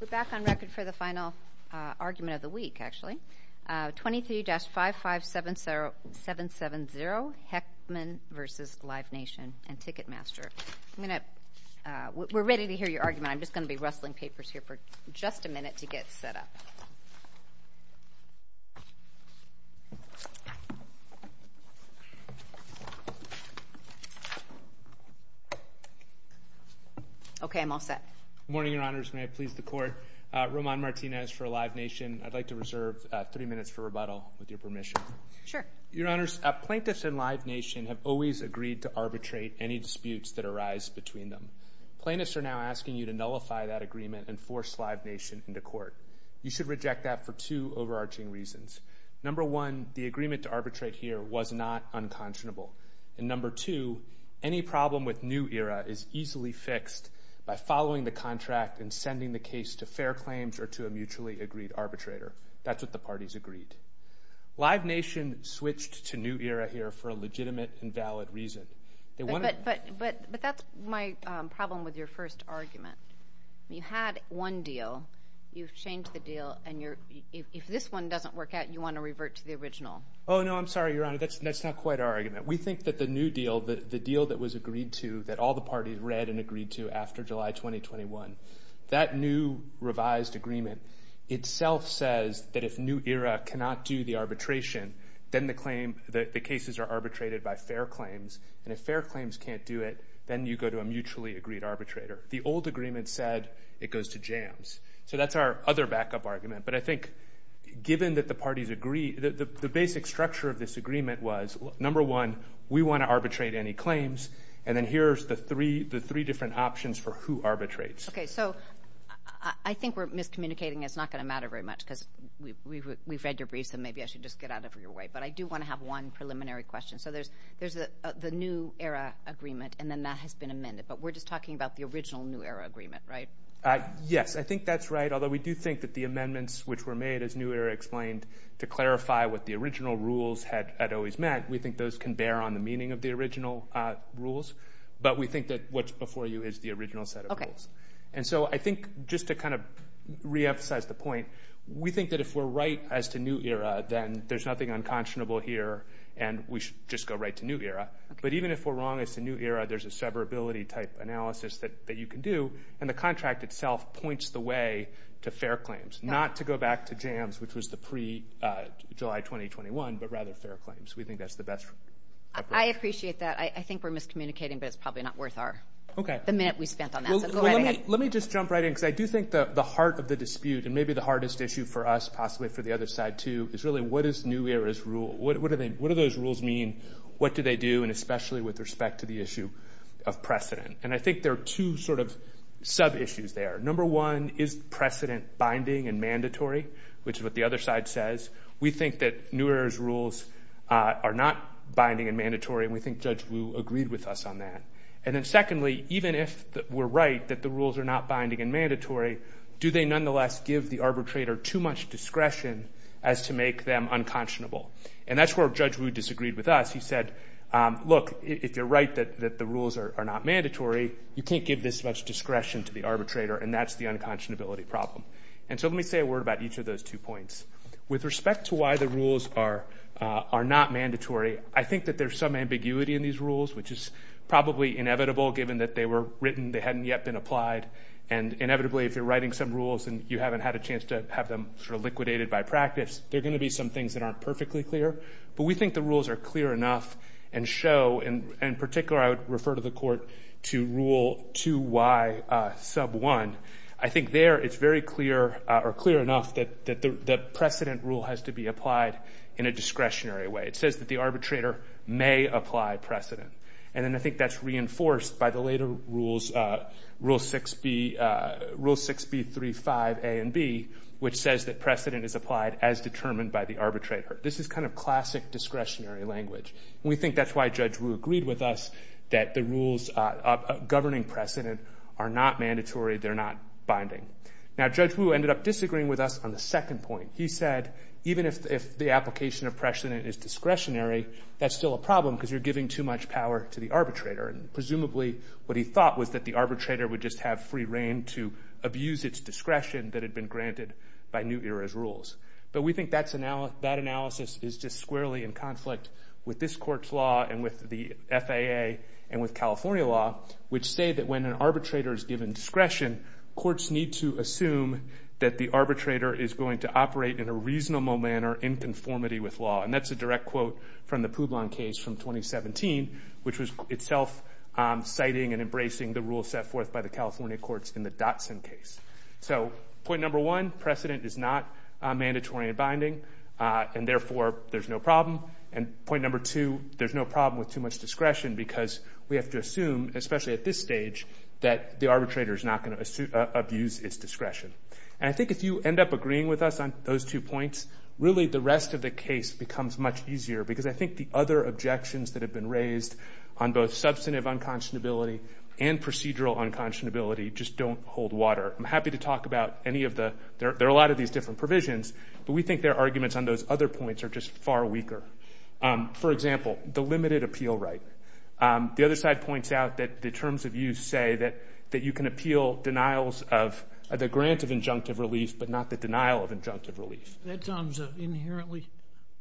We're back on record for the final argument of the week, actually, 23-55770, Heckman v. Live Nation and Ticketmaster. We're ready to hear your argument. I'm just going to be rustling papers here for just a minute to get set up. Okay, I'm all set. Good morning, Your Honors. May I please the Court? Roman Martinez for Live Nation. I'd like to reserve three minutes for rebuttal, with your permission. Sure. Your Honors, plaintiffs in Live Nation have always agreed to arbitrate any disputes that arise between them. Plaintiffs are now asking you to nullify that agreement and force Live Nation into court. You should reject that for two overarching reasons. Number one, the agreement to arbitrate here was not unconscionable. And number two, any problem with New Era is easily fixed by following the contract and sending the case to fair claims or to a mutually agreed arbitrator. That's what the parties agreed. Live Nation switched to New Era here for a legitimate and valid reason. But that's my problem with your first argument. You had one deal, you've changed the deal, and if this one doesn't work out, you want to revert to the original. Oh, no, I'm sorry, Your Honor. That's not quite our argument. We think that the new deal, the deal that was agreed to, that all the parties read and agreed to after July 2021, that new revised agreement itself says that if New Era cannot do the arbitration, then the claim, the cases are arbitrated by fair claims. And if fair claims can't do it, then you go to a mutually agreed arbitrator. The old agreement said it goes to jams. So that's our other backup argument. But I think given that the parties agree, the basic structure of this agreement was, number one, we want to arbitrate any claims, and then here's the three different options for who arbitrates. Okay. So I think we're miscommunicating. It's not going to matter very much because we've read your briefs, and maybe I should just get out of your way. But I do want to have one preliminary question. So there's the New Era agreement, and then that has been amended, but we're just talking about the original New Era agreement, right? Yes, I think that's right, although we do think that the amendments which were made as New Era explained to clarify what the original rules had always meant, we think those can bear on the meaning of the original rules. But we think that what's before you is the original set of rules. And so I think just to kind of re-emphasize the point, we think that if we're right as to New Era, then there's nothing unconscionable here, and we should just go right to New Era. But even if we're wrong as to New Era, there's a severability type analysis that you can do, and the contract itself points the way to fair claims, not to go back to jams, which was the pre-July 2021, but rather fair claims. We think that's the best approach. I appreciate that. I think we're miscommunicating, but it's probably not worth the minute we spent on Well, let me just jump right in, because I do think that the heart of the dispute, and maybe the hardest issue for us, possibly for the other side too, is really what is New Era's rule? What do those rules mean? What do they do? And especially with respect to the issue of precedent. And I think there are two sort of sub-issues there. Number one, is precedent binding and mandatory, which is what the other side says? We think that New Era's rules are not binding and mandatory, and we think Judge Wu agreed with us on that. And then secondly, even if we're right that the rules are not binding and mandatory, do they nonetheless give the arbitrator too much discretion as to make them unconscionable? And that's where Judge Wu disagreed with us. He said, look, if you're right that the rules are not mandatory, you can't give this much discretion to the arbitrator, and that's the unconscionability problem. And so let me say a word about each of those two points. With respect to why the rules are not mandatory, I think that there's some ambiguity in these rules. It's probably inevitable, given that they were written, they hadn't yet been applied. And inevitably, if you're writing some rules and you haven't had a chance to have them sort of liquidated by practice, there are going to be some things that aren't perfectly clear. But we think the rules are clear enough and show, and in particular, I would refer to the court to rule 2Y sub 1. I think there, it's very clear, or clear enough, that the precedent rule has to be applied in a discretionary way. It says that the arbitrator may apply precedent. And then I think that's reinforced by the later rules, rule 6B35A and B, which says that precedent is applied as determined by the arbitrator. This is kind of classic discretionary language. We think that's why Judge Wu agreed with us that the rules governing precedent are not mandatory, they're not binding. Now, Judge Wu ended up disagreeing with us on the second point. He said, even if the application of precedent is discretionary, that's still a problem because you're giving too much power to the arbitrator. And presumably, what he thought was that the arbitrator would just have free reign to abuse its discretion that had been granted by New Era's rules. But we think that analysis is just squarely in conflict with this court's law and with the FAA and with California law, which say that when an arbitrator is given discretion, courts need to assume that the arbitrator is going to operate in a reasonable manner in conformity with law. And that's a direct quote from the Publon case from 2017, which was itself citing and embracing the rules set forth by the California courts in the Dotson case. So point number one, precedent is not mandatory and binding, and therefore, there's no problem. And point number two, there's no problem with too much discretion because we have to assume, especially at this stage, that the arbitrator is not going to abuse its discretion. And I think if you end up agreeing with us on those two points, really the rest of the argument becomes much easier, because I think the other objections that have been raised on both substantive unconscionability and procedural unconscionability just don't hold water. I'm happy to talk about any of the – there are a lot of these different provisions, but we think their arguments on those other points are just far weaker. For example, the limited appeal right. The other side points out that the terms of use say that you can appeal denials of – the grant of injunctive relief, but not the denial of injunctive relief. That sounds inherently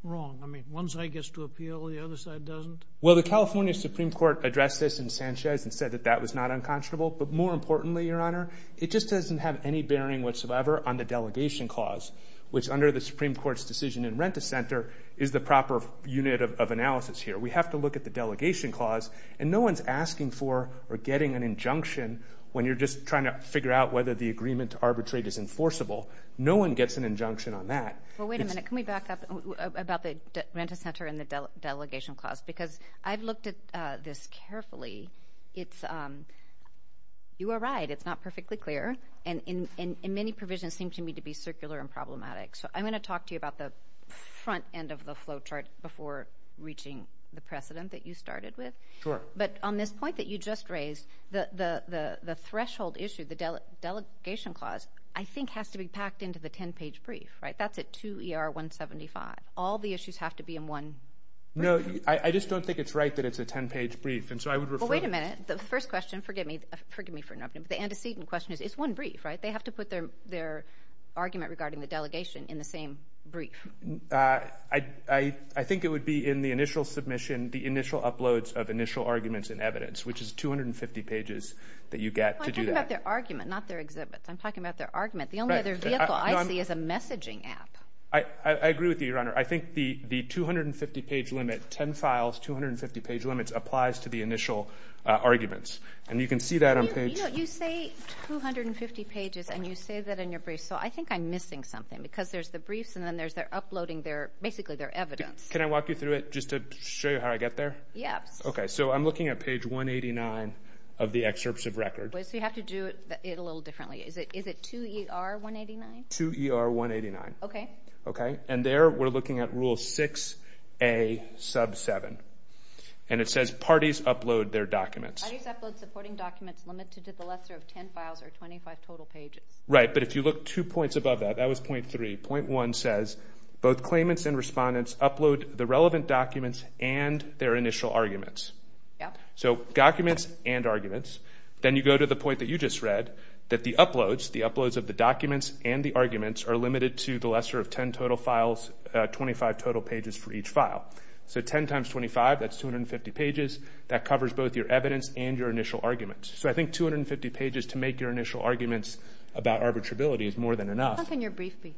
wrong. I mean, one side gets to appeal, the other side doesn't? Well, the California Supreme Court addressed this in Sanchez and said that that was not unconscionable. But more importantly, Your Honor, it just doesn't have any bearing whatsoever on the delegation clause, which under the Supreme Court's decision in Renta Center is the proper unit of analysis here. We have to look at the delegation clause, and no one's asking for or getting an injunction when you're just trying to figure out whether the agreement to arbitrate is enforceable. No one gets an injunction on that. Well, wait a minute. Can we back up about the Renta Center and the delegation clause? Because I've looked at this carefully. You were right. It's not perfectly clear, and many provisions seem to me to be circular and problematic. So I'm going to talk to you about the front end of the flowchart before reaching the precedent that you started with. Sure. But on this point that you just raised, the threshold issue, the delegation clause, I mean, it's packed into the 10-page brief, right? That's at 2 ER 175. All the issues have to be in one briefing? No. I just don't think it's right that it's a 10-page brief. And so I would refer... Well, wait a minute. The first question, forgive me for interrupting, but the antecedent question is, it's one brief, right? They have to put their argument regarding the delegation in the same brief. I think it would be in the initial submission, the initial uploads of initial arguments and evidence, which is 250 pages that you get to do that. Well, I'm talking about their argument, not their exhibits. I'm talking about their argument. The only other vehicle I see is a messaging app. I agree with you, Your Honor. I think the 250-page limit, 10 files, 250-page limits, applies to the initial arguments. And you can see that on page... You know, you say 250 pages and you say that in your brief, so I think I'm missing something because there's the briefs and then there's their uploading, basically their evidence. Can I walk you through it just to show you how I get there? Yes. Okay. So I'm looking at page 189 of the excerpts of record. So you have to do it a little differently. Is it 2ER189? 2ER189. Okay. Okay. And there we're looking at Rule 6A, Sub 7, and it says parties upload their documents. Parties upload supporting documents limited to the lesser of 10 files or 25 total pages. Right. But if you look two points above that, that was point three, point one says both claimants and respondents upload the relevant documents and their initial arguments. Yeah. So documents and arguments. Then you go to the point that you just read that the uploads, the uploads of the documents and the arguments are limited to the lesser of 10 total files, 25 total pages for each file. So 10 times 25, that's 250 pages. That covers both your evidence and your initial arguments. So I think 250 pages to make your initial arguments about arbitrability is more than enough. How long can your brief be?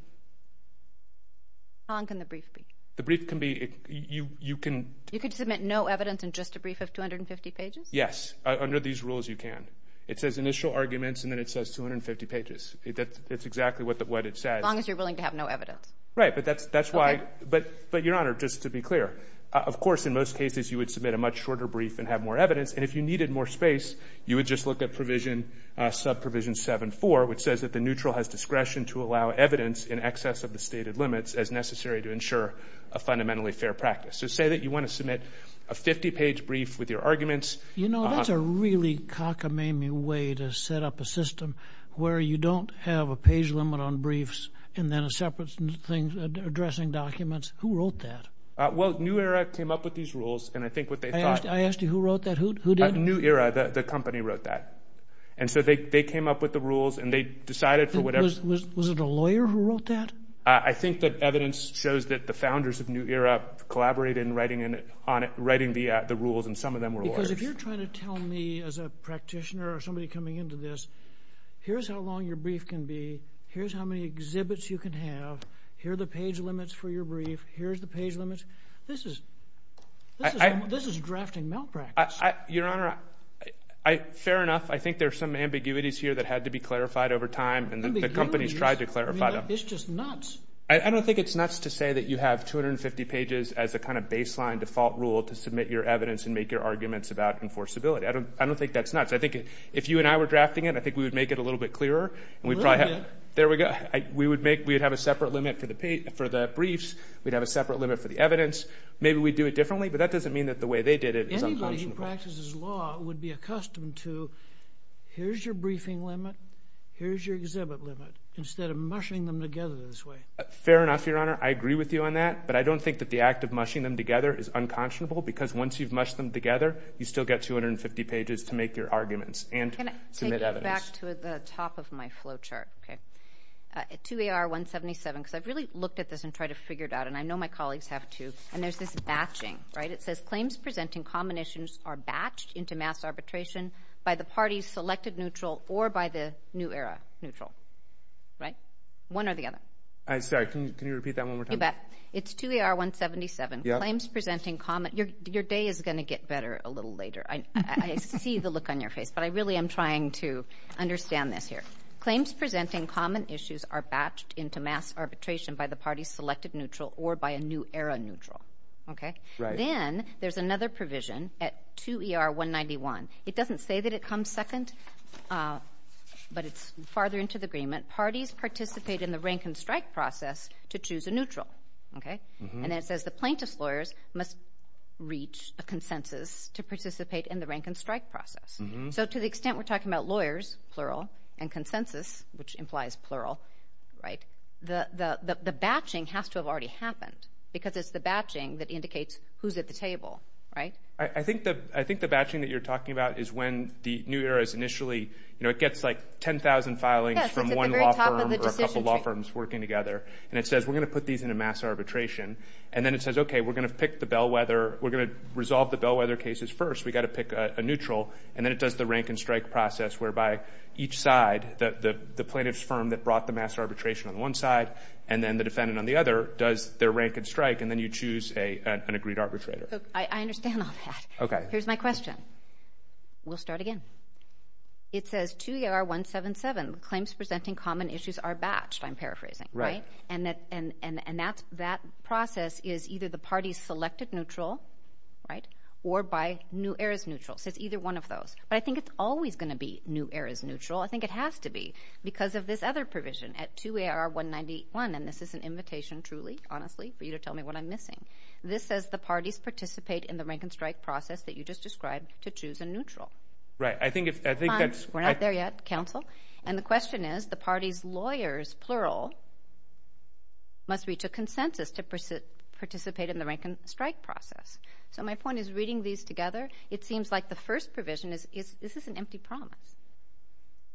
How long can the brief be? The brief can be... You can... You could submit no evidence and just a brief of 250 pages? Yes. Under these rules, you can. It says initial arguments and then it says 250 pages. That's exactly what it says. As long as you're willing to have no evidence. Right. But that's why... Okay. But Your Honor, just to be clear, of course, in most cases, you would submit a much shorter brief and have more evidence. And if you needed more space, you would just look at provision, Sub Provision 7-4, which says that the neutral has discretion to allow evidence in excess of the stated limits as necessary to ensure a fundamentally fair practice. So say that you want to submit a 50-page brief with your arguments... You know, that's a really cockamamie way to set up a system where you don't have a page limit on briefs and then a separate thing addressing documents. Who wrote that? Well, New Era came up with these rules and I think what they thought... I asked you who wrote that. Who did? New Era. The company wrote that. And so they came up with the rules and they decided for whatever... Was it a lawyer who wrote that? I think that evidence shows that the founders of New Era collaborated in writing the rules and some of them were lawyers. Because if you're trying to tell me as a practitioner or somebody coming into this, here's how long your brief can be. Here's how many exhibits you can have. Here are the page limits for your brief. Here's the page limits. This is drafting malpractice. Your Honor, fair enough. I think there are some ambiguities here that had to be clarified over time and the company has tried to clarify them. It's just nuts. I don't think it's nuts to say that you have 250 pages as a kind of baseline default rule to submit your evidence and make your arguments about enforceability. I don't think that's nuts. I think if you and I were drafting it, I think we would make it a little bit clearer. A little bit? There we go. We would have a separate limit for the briefs. We'd have a separate limit for the evidence. Maybe we'd do it differently, but that doesn't mean that the way they did it is unconscionable. Anybody who practices law would be accustomed to, here's your briefing limit, here's your exhibit limit, instead of mushing them together this way. Fair enough, Your Honor. I agree with you on that, but I don't think that the act of mushing them together is unconscionable because once you've mushed them together, you still get 250 pages to make your arguments and to submit evidence. Can I take you back to the top of my flow chart? 2AR177, because I've really looked at this and tried to figure it out, and I know my colleagues have too, and there's this batching. It says, claims presenting combinations are batched into mass arbitration by the parties selected neutral or by the new era neutral. One or the other? Sorry, can you repeat that one more time? You bet. It's 2AR177. Yeah. Claims presenting common... Your day is going to get better a little later. I see the look on your face, but I really am trying to understand this here. Claims presenting common issues are batched into mass arbitration by the parties selected neutral or by a new era neutral. Okay? Right. Then, there's another provision at 2ER191. It doesn't say that it comes second, but it's farther into the agreement. Parties participate in the rank and strike process to choose a neutral. Okay? And then, it says the plaintiff's lawyers must reach a consensus to participate in the rank and strike process. So, to the extent we're talking about lawyers, plural, and consensus, which implies plural, right, the batching has to have already happened, because it's the batching that indicates who's at the table. Right? I think the batching that you're talking about is when the new era is initially... It's at the very top of the decision tree. ...one law firm or a couple of law firms working together. And it says, we're going to put these into mass arbitration. And then, it says, okay, we're going to pick the bellwether. We're going to resolve the bellwether cases first. We've got to pick a neutral. And then, it does the rank and strike process, whereby each side, the plaintiff's firm that brought the mass arbitration on one side, and then the defendant on the other, does their rank and strike. And then, you choose an agreed arbitrator. I understand all that. Okay. Here's my question. We'll start again. It says, 2AR177, claims presenting common issues are batched, I'm paraphrasing. Right. Right? And that process is either the party's selected neutral, right, or by new era's neutral. So, it's either one of those. But I think it's always going to be new era's neutral. I think it has to be, because of this other provision at 2AR191. And this is an invitation, truly, honestly, for you to tell me what I'm missing. This says, the parties participate in the rank and strike process that you just described to choose a neutral. Right. I think that's... We're not there yet, counsel. And the question is, the party's lawyers, plural, must reach a consensus to participate in the rank and strike process. So, my point is, reading these together, it seems like the first provision is, is this an empty promise?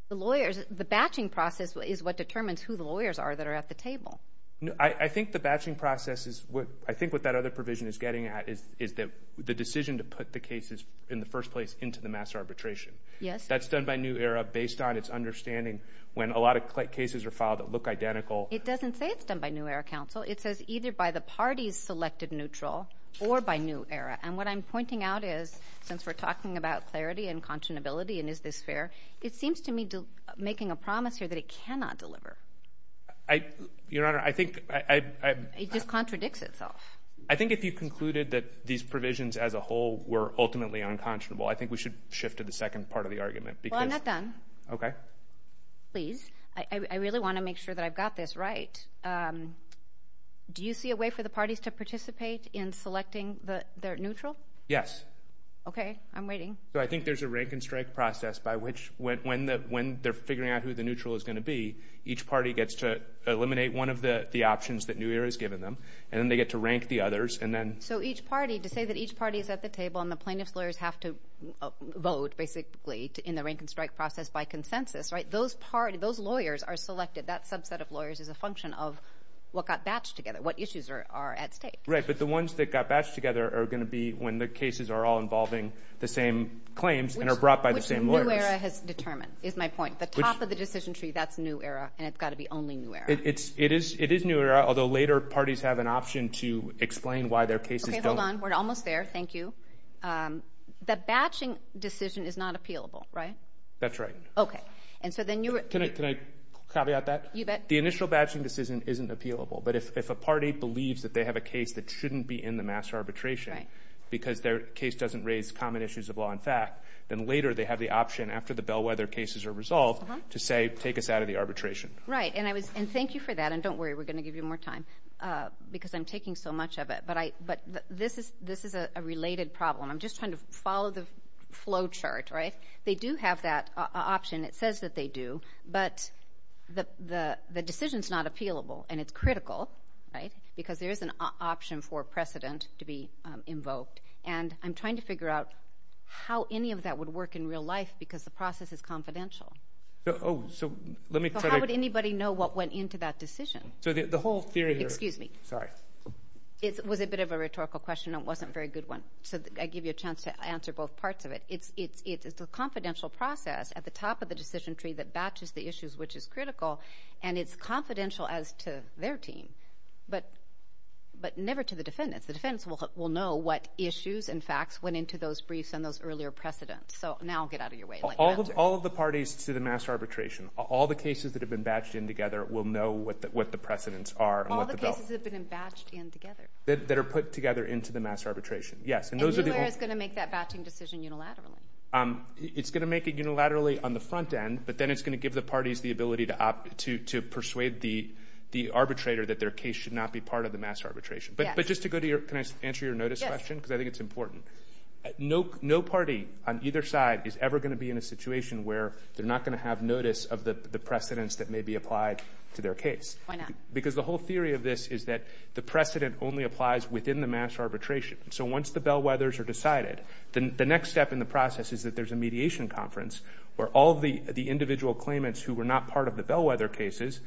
The lawyers, the batching process is what determines who the lawyers are that are at the table. No, I think the batching process is what, I think what that other provision is getting at is, is that the decision to put the cases in the first place into the mass arbitration. Yes. That's done by new era, based on its understanding, when a lot of cases are filed that look identical. It doesn't say it's done by new era, counsel. It says, either by the party's selected neutral, or by new era. And what I'm pointing out is, since we're talking about clarity and continuity, and is this fair? It seems to me, making a promise here, that it cannot deliver. I, Your Honor, I think, I, I... It just contradicts itself. I think if you concluded that these provisions as a whole were ultimately unconscionable, I think we should shift to the second part of the argument. Because... Well, I'm not done. Okay. Please. I, I really want to make sure that I've got this right. Do you see a way for the parties to participate in selecting the, their neutral? Yes. Okay. I'm waiting. So, I think there's a rank and strike process by which, when, when the, when they're figuring out who the neutral is going to be, each party gets to eliminate one of the, the options that new era has given them, and then they get to rank the others, and then... So, each party, to say that each party is at the table and the plaintiff's lawyers have to vote, basically, in the rank and strike process by consensus, right? Those party, those lawyers are selected. That subset of lawyers is a function of what got batched together, what issues are, are at stake. Right. But the ones that got batched together are going to be when the cases are all involving the same claims and are brought by the same lawyers. Which, which new era has determined, is my point. Which... The top of the decision tree, that's new era, and it's got to be only new era. It, it's, it is, it is new era, although later parties have an option to explain why their cases don't... Okay, hold on. We're almost there. Thank you. The batching decision is not appealable, right? That's right. Okay. And so then you... Can I, can I caveat that? You bet. The initial batching decision isn't appealable, but if, if a party believes that they have a case that shouldn't be in the mass arbitration... Right. Because their case doesn't raise common issues of law and fact, then later they have the option, after the bellwether cases are resolved, to say, take us out of the arbitration. Right. And I was, and thank you for that, and don't worry, we're going to give you more time, because I'm taking so much of it, but I, but this is, this is a related problem. I'm just trying to follow the flow chart, right? They do have that option. It says that they do, but the, the, the decision's not appealable, and it's critical, right? Because there is an option for precedent to be invoked, and I'm trying to figure out how any of that would work in real life, because the process is confidential. Oh, so let me try to... I don't know what went into that decision. So the, the whole theory... Excuse me. Sorry. It was a bit of a rhetorical question, and it wasn't a very good one, so I give you a chance to answer both parts of it. It's, it's, it's a confidential process at the top of the decision tree that batches the issues which is critical, and it's confidential as to their team, but, but never to the defendants. The defendants will, will know what issues and facts went into those briefs and those earlier precedents. So now get out of your way. All of, all of the parties to the mass arbitration, all the cases that have been batched in together will know what the, what the precedents are and what the... All the cases that have been batched in together. That, that are put together into the mass arbitration. Yes, and those are the... And who is going to make that batching decision unilaterally? It's going to make it unilaterally on the front end, but then it's going to give the parties the ability to, to, to persuade the, the arbitrator that their case should not be part of the mass arbitration. Yes. But, but just to go to your... Can I answer your notice question? Yes. Because I think it's important. No, no party on either side is ever going to be in a situation where they're not going to have notice of the, the precedents that may be applied to their case. Why not? Because the whole theory of this is that the precedent only applies within the mass arbitration. So once the bellwethers are decided, then the next step in the process is that there's a mediation conference where all of the, the individual claimants who were not part of the bellwether cases,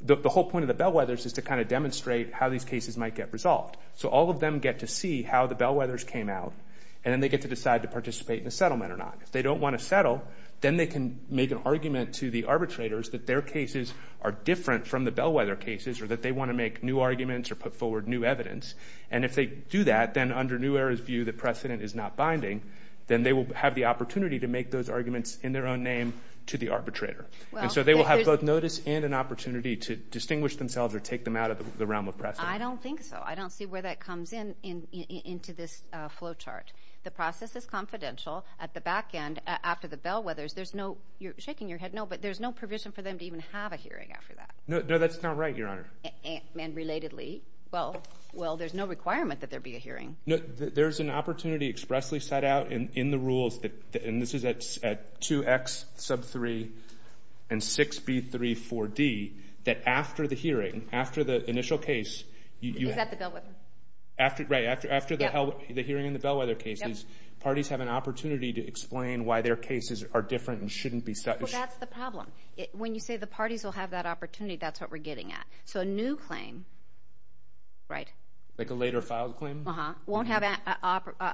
the, the whole point of the bellwethers is to kind of demonstrate how these cases might get resolved. So all of them get to see how the bellwethers came out and then they get to decide to participate in a settlement or not. If they don't want to settle, then they can make an argument to the arbitrators that their cases are different from the bellwether cases or that they want to make new arguments or put forward new evidence. And if they do that, then under New Era's view, the precedent is not binding, then they will have the opportunity to make those arguments in their own name to the arbitrator. And so they will have both notice and an opportunity to distinguish themselves or take them out of the realm of precedent. I don't think so. I don't see where that comes in, in, into this flow chart. The process is confidential. At the back end, after the bellwethers, there's no, you're shaking your head no, but there's no provision for them to even have a hearing after that. No, no, that's not right, Your Honor. And, and, and relatedly? Well, well, there's no requirement that there be a hearing. No, there's an opportunity expressly set out in, in the rules that, and this is at, at 2X sub 3 and 6B3 4D, that after the hearing, after the initial case, you, you, Is that the bellwether? After, right, after, after the hell, the hearing and the bellwether cases, parties have an opportunity to explain why their cases are different and shouldn't be set. Well, that's the problem. When you say the parties will have that opportunity, that's what we're getting at. So a new claim, right? Like a later filed claim? Uh-huh. Won't have a, a,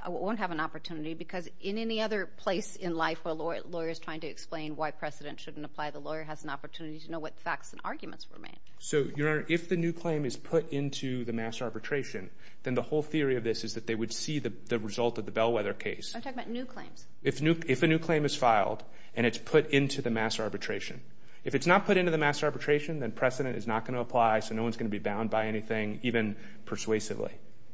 a, won't have an opportunity because in any other place in life where a lawyer, a lawyer is trying to explain why precedent shouldn't apply, the lawyer has an opportunity to know what facts and arguments were made. So, Your Honor, if the new claim is put into the mass arbitration, then the whole theory of this is that they would see the, the result of the bellwether case. I'm talking about new claims. If new, if a new claim is filed and it's put into the mass arbitration. If it's not put into the mass arbitration, then precedent is not going to apply, so no one's going to be bound by anything, even persuasively.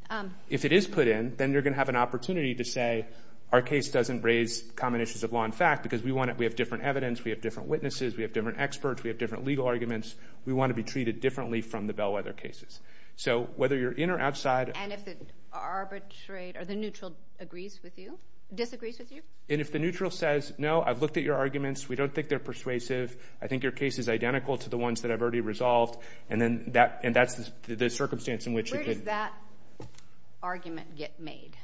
Um. If it is put in, then you're going to have an opportunity to say, our case doesn't raise common issues of law and fact because we want it, we have different evidence, we have different witnesses, we have different experts, we have different legal arguments, we want to be treated differently from the bellwether cases. So, whether you're in or outside. And if the arbitrator, the neutral agrees with you, disagrees with you? And if the neutral says, no, I've looked at your arguments, we don't think they're persuasive, I think your case is identical to the ones that I've already resolved, and then that, and that's the, the circumstance in which you could. Where does that argument get made?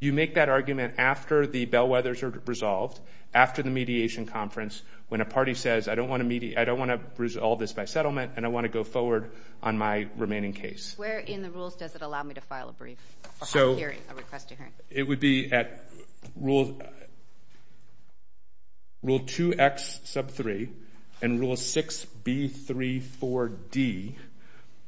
You make that argument after the bellwethers are resolved, after the mediation conference, when a party says, I don't want to mediate, I don't want to resolve this by settlement, and I want to go forward on my remaining case. Where in the rules does it allow me to file a brief? So. A hearing, a request to hearing. It would be at rule, rule 2X sub 3 and rule 6B34D.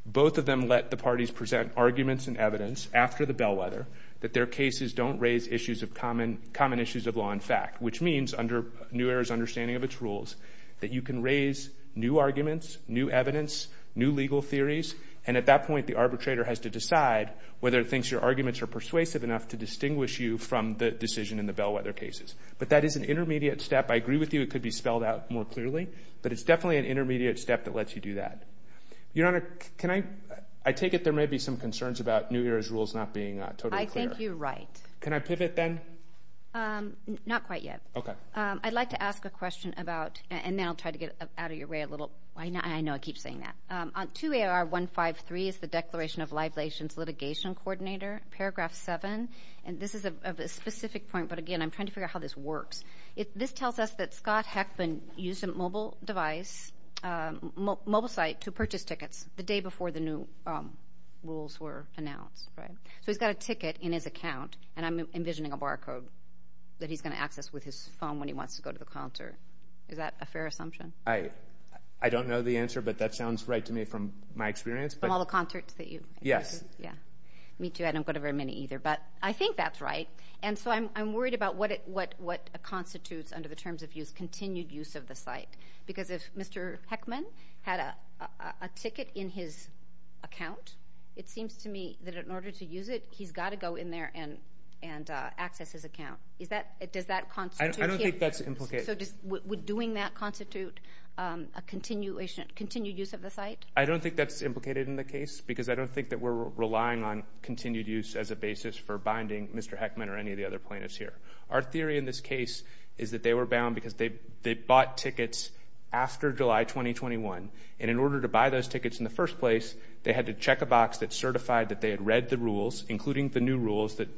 Both of them let the parties present arguments and evidence after the bellwether that their cases don't raise issues of common, common issues of law and fact. Which means, under New Era's understanding of its rules, that you can raise new arguments, new evidence, new legal theories, and at that point the arbitrator has to decide whether it thinks your arguments are persuasive enough to distinguish you from the decision in the bellwether cases. But that is an intermediate step. I agree with you it could be spelled out more clearly, but it's definitely an intermediate step that lets you do that. Your Honor, can I, I take it there may be some concerns about New Era's rules not being totally clear. I think you're right. Can I pivot then? Not quite yet. Okay. I'd like to ask a question about, and then I'll try to get out of your way a little. I know I keep saying that. 2AR153 is the Declaration of Live Lations Litigation Coordinator, paragraph 7. And this is a specific point, but again, I'm trying to figure out how this works. This tells us that Scott Heckman used a mobile device, mobile site, to purchase tickets the day before the new rules were announced. So he's got a ticket in his account, and I'm envisioning a bar code that he's going to access with his phone when he wants to go to the concert. Is that a fair assumption? I don't know the answer, but that sounds right to me from my experience. From all the concerts that you've attended? Yes. Me too. I don't go to very many either. But I think that's right. And so I'm worried about what constitutes under the terms of use, continued use of the site. Because if Mr. Heckman had a ticket in his account, it seems to me that in order to use it, he's got to go in there and access his account. Does that constitute? I don't think that's implicated. So would doing that constitute a continued use of the site? I don't think that's implicated in the case, because I don't think that we're relying on continued use as a basis for binding Mr. Heckman or any of the other plaintiffs here. Our theory in this case is that they were bound because they bought tickets after July 2021. And in order to buy those tickets in the first place, they had to check a box that certified that they had read the rules, including the new rules that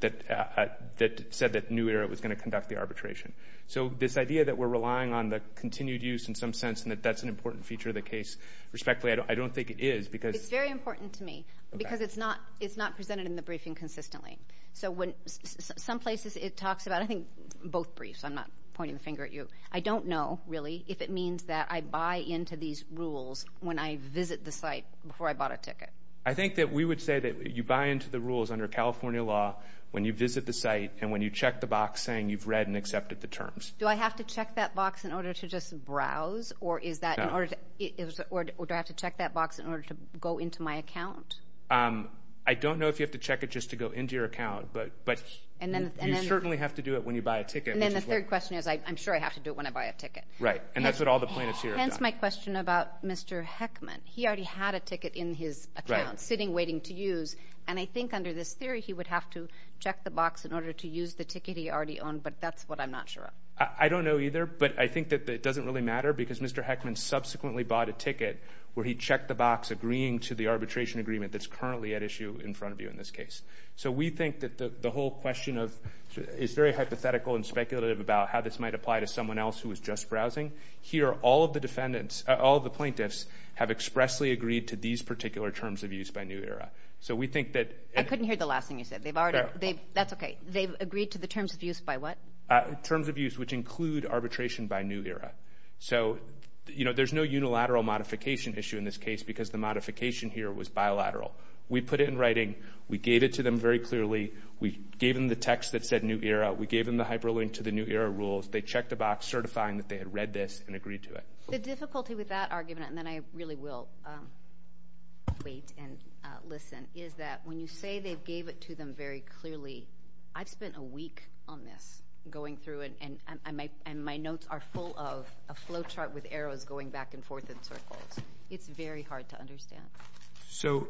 said that New Era was going to conduct the arbitration. So this idea that we're relying on the continued use in some sense and that that's an important feature of the case, respectfully, I don't think it is. It's very important to me, because it's not presented in the briefing consistently. So some places it talks about, I think both briefs, I'm not pointing the finger at you. I don't know, really, if it means that I buy into these rules when I visit the site before I bought a ticket. I think that we would say that you buy into the rules under California law when you visit the site and when you check the box saying you've read and accepted the terms. Do I have to check that box in order to just browse, or do I have to check that box in order to go into my account? I don't know if you have to check it just to go into your account, but you certainly have to do it when you buy a ticket. And then the third question is I'm sure I have to do it when I buy a ticket. Right, and that's what all the plaintiffs here have done. That's my question about Mr. Heckman. He already had a ticket in his account sitting waiting to use, and I think under this theory he would have to check the box in order to use the ticket he already owned, but that's what I'm not sure of. I don't know either, but I think that it doesn't really matter because Mr. Heckman subsequently bought a ticket where he checked the box agreeing to the arbitration agreement that's currently at issue in front of you in this case. So we think that the whole question is very hypothetical and speculative about how this might apply to someone else who is just browsing. Here all of the plaintiffs have expressly agreed to these particular terms of use by New Era. I couldn't hear the last thing you said. That's okay. They've agreed to the terms of use by what? Terms of use which include arbitration by New Era. So there's no unilateral modification issue in this case because the modification here was bilateral. We put it in writing. We gave it to them very clearly. We gave them the text that said New Era. We gave them the hyperlink to the New Era rules. They checked the box certifying that they had read this and agreed to it. The difficulty with that argument, and then I really will wait and listen, is that when you say they gave it to them very clearly, I've spent a week on this going through it, and my notes are full of a flow chart with arrows going back and forth in circles. It's very hard to understand. So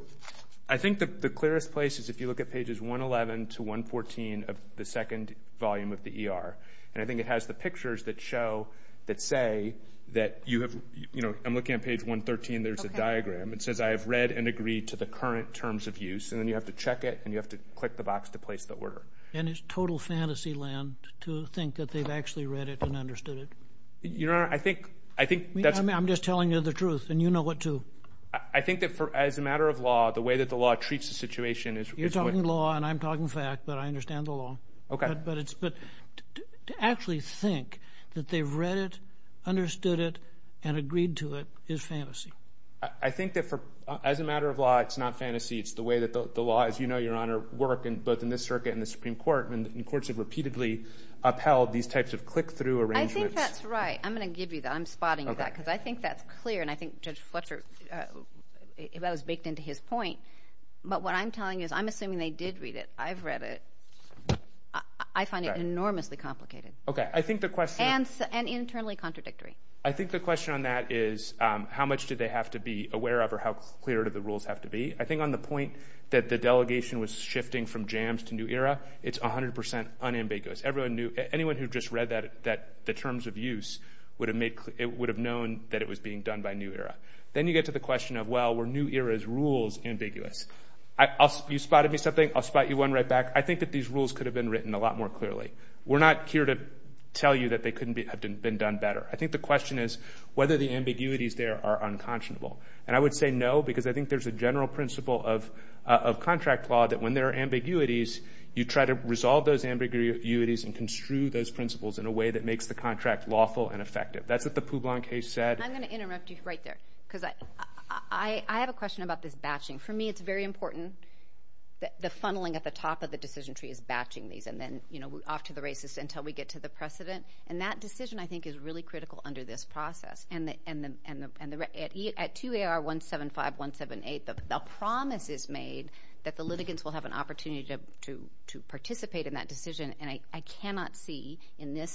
I think the clearest place is if you look at pages 111 to 114 of the second volume of the ER, and I think it has the pictures that say that you have, you know, I'm looking at page 113. There's a diagram. It says I have read and agreed to the current terms of use, and then you have to check it and you have to click the box to place the order. And it's total fantasy land to think that they've actually read it and understood it. Your Honor, I think that's— I'm just telling you the truth, and you know it too. I think that as a matter of law, the way that the law treats the situation is— You're talking law and I'm talking fact, but I understand the law. Okay. But to actually think that they've read it, understood it, and agreed to it is fantasy. I think that as a matter of law, it's not fantasy. It's the way that the law, as you know, Your Honor, work both in this circuit and the Supreme Court, and courts have repeatedly upheld these types of click-through arrangements. I think that's right. I'm going to give you that. I'm spotting you that because I think that's clear, and I think Judge Fletcher—that was baked into his point. But what I'm telling you is I'm assuming they did read it. I've read it. I find it enormously complicated. Okay. I think the question— And internally contradictory. I think the question on that is how much do they have to be aware of or how clear do the rules have to be? I think on the point that the delegation was shifting from jams to new era, it's 100% unambiguous. Anyone who just read the terms of use would have known that it was being done by new era. Then you get to the question of, well, were new era's rules ambiguous? You spotted me something. I'll spot you one right back. I think that these rules could have been written a lot more clearly. We're not here to tell you that they couldn't have been done better. I think the question is whether the ambiguities there are unconscionable. And I would say no because I think there's a general principle of contract law that when there are ambiguities, you try to resolve those ambiguities and construe those principles in a way that makes the contract lawful and effective. That's what the Poublon case said. I'm going to interrupt you right there because I have a question about this batching. For me, it's very important that the funneling at the top of the decision tree is batching these and then off to the races until we get to the precedent. That decision, I think, is really critical under this process. At 2AR175-178, the promise is made that the litigants will have an opportunity to participate in that decision, and I cannot see in the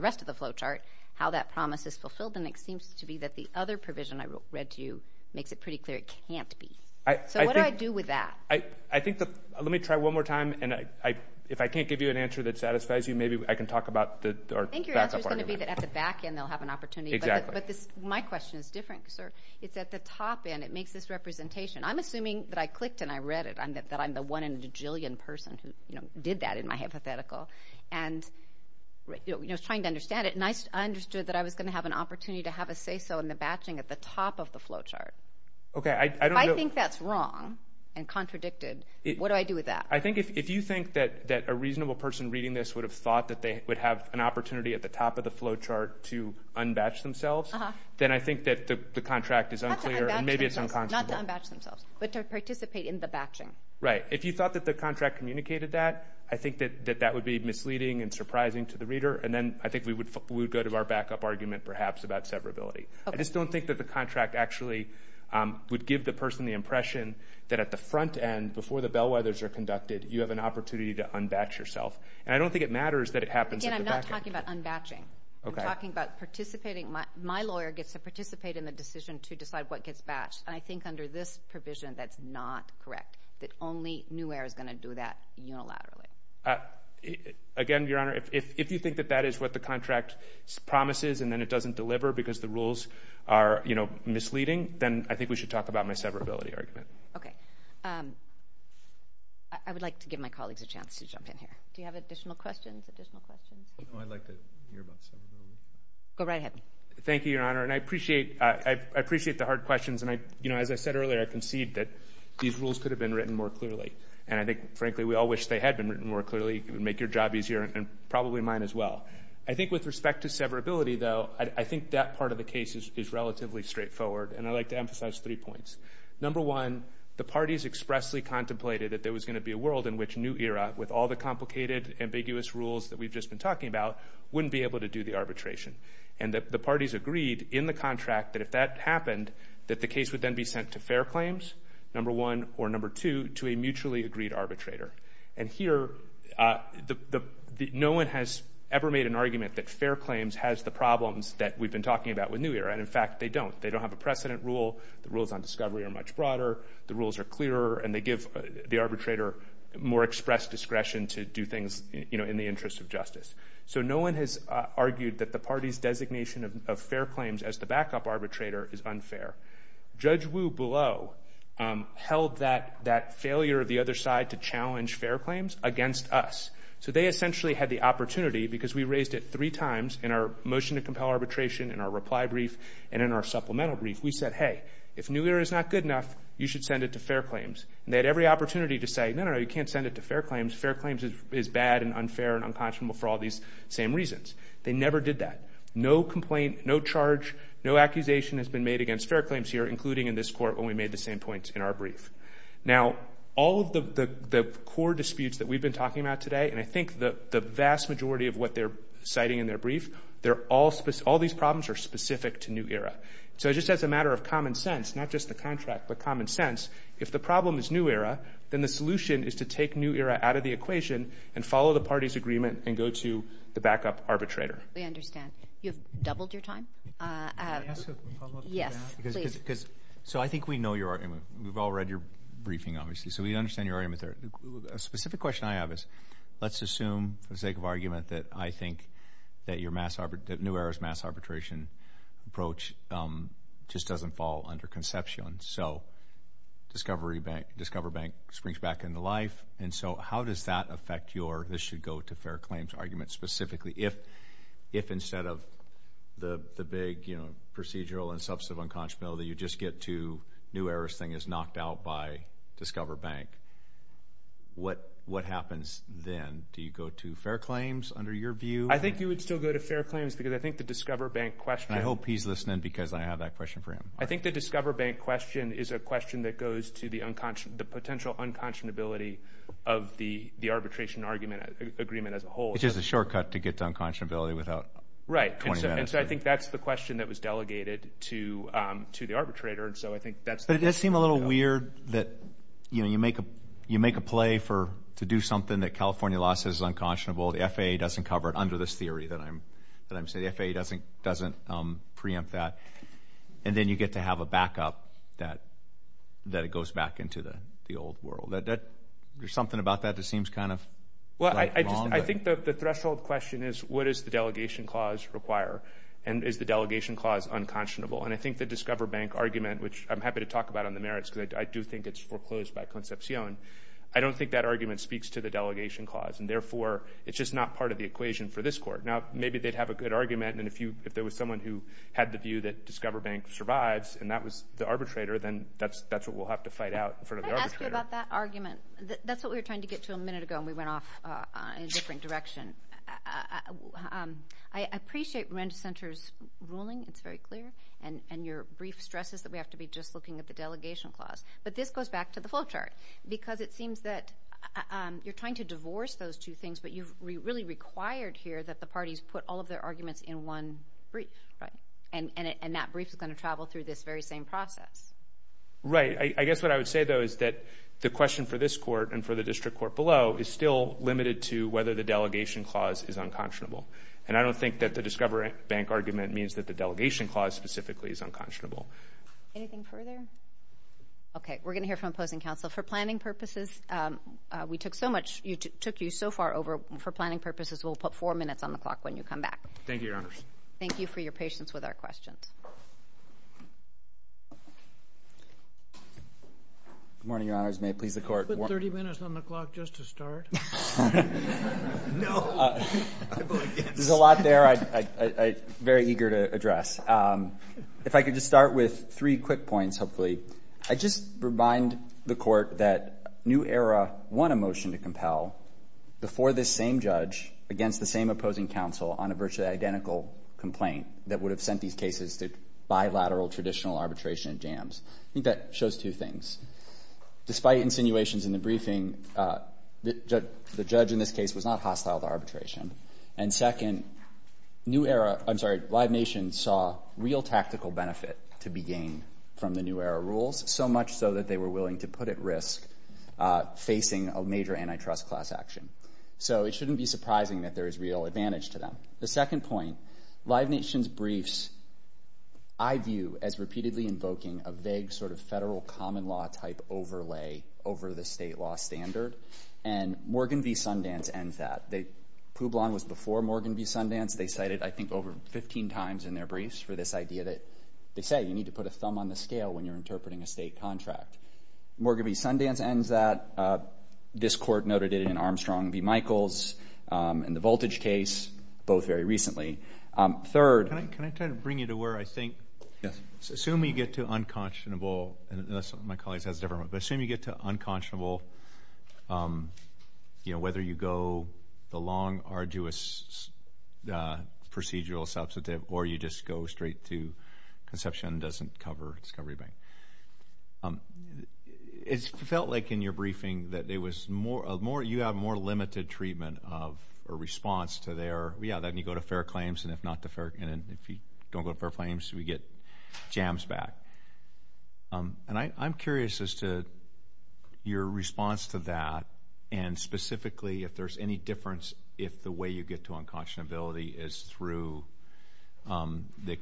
rest of the flow chart how that promise is fulfilled, and it seems to be that the other provision I read to you makes it pretty clear it can't be. So what do I do with that? Let me try one more time, and if I can't give you an answer that satisfies you, maybe I can talk about the back part of my mind. I think your answer is going to be that at the back end they'll have an opportunity. Exactly. But my question is different because it's at the top end. It makes this representation. I'm assuming that I clicked and I read it, that I'm the one in a jillion person who did that in my hypothetical and was trying to understand it, and I understood that I was going to have an opportunity to have a say-so in the batching at the top of the flow chart. Okay, I don't know. If I think that's wrong and contradicted, what do I do with that? If you think that a reasonable person reading this would have thought that they would have an opportunity at the top of the flow chart to unbatch themselves, then I think that the contract is unclear and maybe it's unconscionable. Not to unbatch themselves, but to participate in the batching. Right. If you thought that the contract communicated that, I think that that would be misleading and surprising to the reader, and then I think we would go to our backup argument perhaps about severability. I just don't think that the contract actually would give the person the impression that at the front end, before the bellwethers are conducted, you have an opportunity to unbatch yourself. And I don't think it matters that it happens at the back end. Again, I'm not talking about unbatching. I'm talking about participating. My lawyer gets to participate in the decision to decide what gets batched, and I think under this provision that's not correct, that only Nuair is going to do that unilaterally. Again, Your Honor, if you think that that is what the contract promises and then it doesn't deliver because the rules are misleading, then I think we should talk about my severability argument. Okay. I would like to give my colleagues a chance to jump in here. Do you have additional questions? I'd like to hear about severability. Go right ahead. Thank you, Your Honor, and I appreciate the hard questions. As I said earlier, I concede that these rules could have been written more clearly, and I think, frankly, we all wish they had been written more clearly. It would make your job easier and probably mine as well. I think with respect to severability, though, I think that part of the case is relatively straightforward, and I'd like to emphasize three points. Number one, the parties expressly contemplated that there was going to be a world in which Nuair, with all the complicated, ambiguous rules that we've just been talking about, wouldn't be able to do the arbitration. And the parties agreed in the contract that if that happened, that the case would then be sent to fair claims, number one, or number two, to a mutually agreed arbitrator. And here no one has ever made an argument that fair claims has the problems that we've been talking about with Nuair, and, in fact, they don't. They don't have a precedent rule. The rules on discovery are much broader. The rules are clearer, and they give the arbitrator more expressed discretion to do things, you know, in the interest of justice. So no one has argued that the party's designation of fair claims as the backup arbitrator is unfair. Judge Wu below held that failure of the other side to challenge fair claims against us. So they essentially had the opportunity, because we raised it three times in our motion to compel arbitration, in our reply brief, and in our supplemental brief. We said, hey, if Nuair is not good enough, you should send it to fair claims. And they had every opportunity to say, no, no, no, you can't send it to fair claims. Fair claims is bad and unfair and unconscionable for all these same reasons. They never did that. No complaint, no charge, no accusation has been made against fair claims here, including in this court when we made the same point in our brief. Now, all of the core disputes that we've been talking about today, and I think the vast majority of what they're citing in their brief, all these problems are specific to Nuair. So just as a matter of common sense, not just the contract, but common sense, if the problem is Nuair, then the solution is to take Nuair out of the equation and follow the party's agreement and go to the backup arbitrator. We understand. You've doubled your time. May I ask a follow-up to that? Yes, please. So I think we know your argument. We've all read your briefing, obviously, so we understand your argument there. A specific question I have is let's assume, for the sake of argument, that I think that Nuair's mass arbitration approach just doesn't fall under conception. So Discover Bank springs back into life, and so how does that affect your this should go to fair claims argument specifically if instead of the big procedural and substantive unconscionability, you just get to Nuair's thing is knocked out by Discover Bank. What happens then? Do you go to fair claims under your view? I think you would still go to fair claims because I think the Discover Bank question. I hope he's listening because I have that question for him. I think the Discover Bank question is a question that goes to the potential unconscionability of the arbitration agreement as a whole. Which is a shortcut to get to unconscionability without 20 minutes. Right, and so I think that's the question that was delegated to the arbitrator. But it does seem a little weird that you make a play to do something that California law says is unconscionable. The FAA doesn't cover it under this theory that I'm saying. The FAA doesn't preempt that. And then you get to have a backup that goes back into the old world. There's something about that that seems kind of wrong. Well, I think the threshold question is what does the delegation clause require? And is the delegation clause unconscionable? And I think the Discover Bank argument, which I'm happy to talk about on the merits because I do think it's foreclosed by Concepcion. I don't think that argument speaks to the delegation clause. And therefore, it's just not part of the equation for this court. Now, maybe they'd have a good argument. And if there was someone who had the view that Discover Bank survives and that was the arbitrator, then that's what we'll have to fight out in front of the arbitrator. Let me ask you about that argument. That's what we were trying to get to a minute ago, and we went off in a different direction. I appreciate Ren Center's ruling. It's very clear. And your brief stresses that we have to be just looking at the delegation clause. But this goes back to the flowchart because it seems that you're trying to divorce those two things, but you've really required here that the parties put all of their arguments in one brief. And that brief is going to travel through this very same process. Right. I guess what I would say, though, is that the question for this court and for the district court below is still limited to whether the delegation clause is unconscionable. And I don't think that the Discover Bank argument means that the delegation clause specifically is unconscionable. Anything further? Okay. We're going to hear from opposing counsel. For planning purposes, we took you so far over. For planning purposes, we'll put four minutes on the clock when you come back. Thank you, Your Honors. Thank you for your patience with our questions. Good morning, Your Honors. May it please the Court. You put 30 minutes on the clock just to start? No. There's a lot there I'm very eager to address. If I could just start with three quick points, hopefully. I just remind the Court that New Era won a motion to compel before this same judge, against the same opposing counsel, on a virtually identical complaint that would have sent these cases to bilateral traditional arbitration jams. I think that shows two things. Despite insinuations in the briefing, the judge in this case was not hostile to arbitration. And second, Live Nation saw real tactical benefit to be gained from the New Era rules, so much so that they were willing to put at risk facing a major antitrust class action. So it shouldn't be surprising that there is real advantage to them. The second point, Live Nation's briefs I view as repeatedly invoking a vague sort of federal common law type overlay over the state law standard, and Morgan v. Sundance ends that. Publon was before Morgan v. Sundance. They cited, I think, over 15 times in their briefs for this idea that they say you need to put a thumb on the scale when you're interpreting a state contract. Morgan v. Sundance ends that. This court noted it in Armstrong v. Michaels and the Voltage case, both very recently. Third. Can I try to bring you to where I think, assume you get to unconscionable, and my colleagues has a different one, but assume you get to unconscionable, whether you go the long, arduous procedural substantive or you just go straight to conception doesn't cover discovery bank. It felt like in your briefing that you have more limited treatment of a response to their, yeah, then you go to fair claims, and if you don't go to fair claims, we get jams back. And I'm curious as to your response to that and specifically if there's any difference if the way you get to unconscionability is through the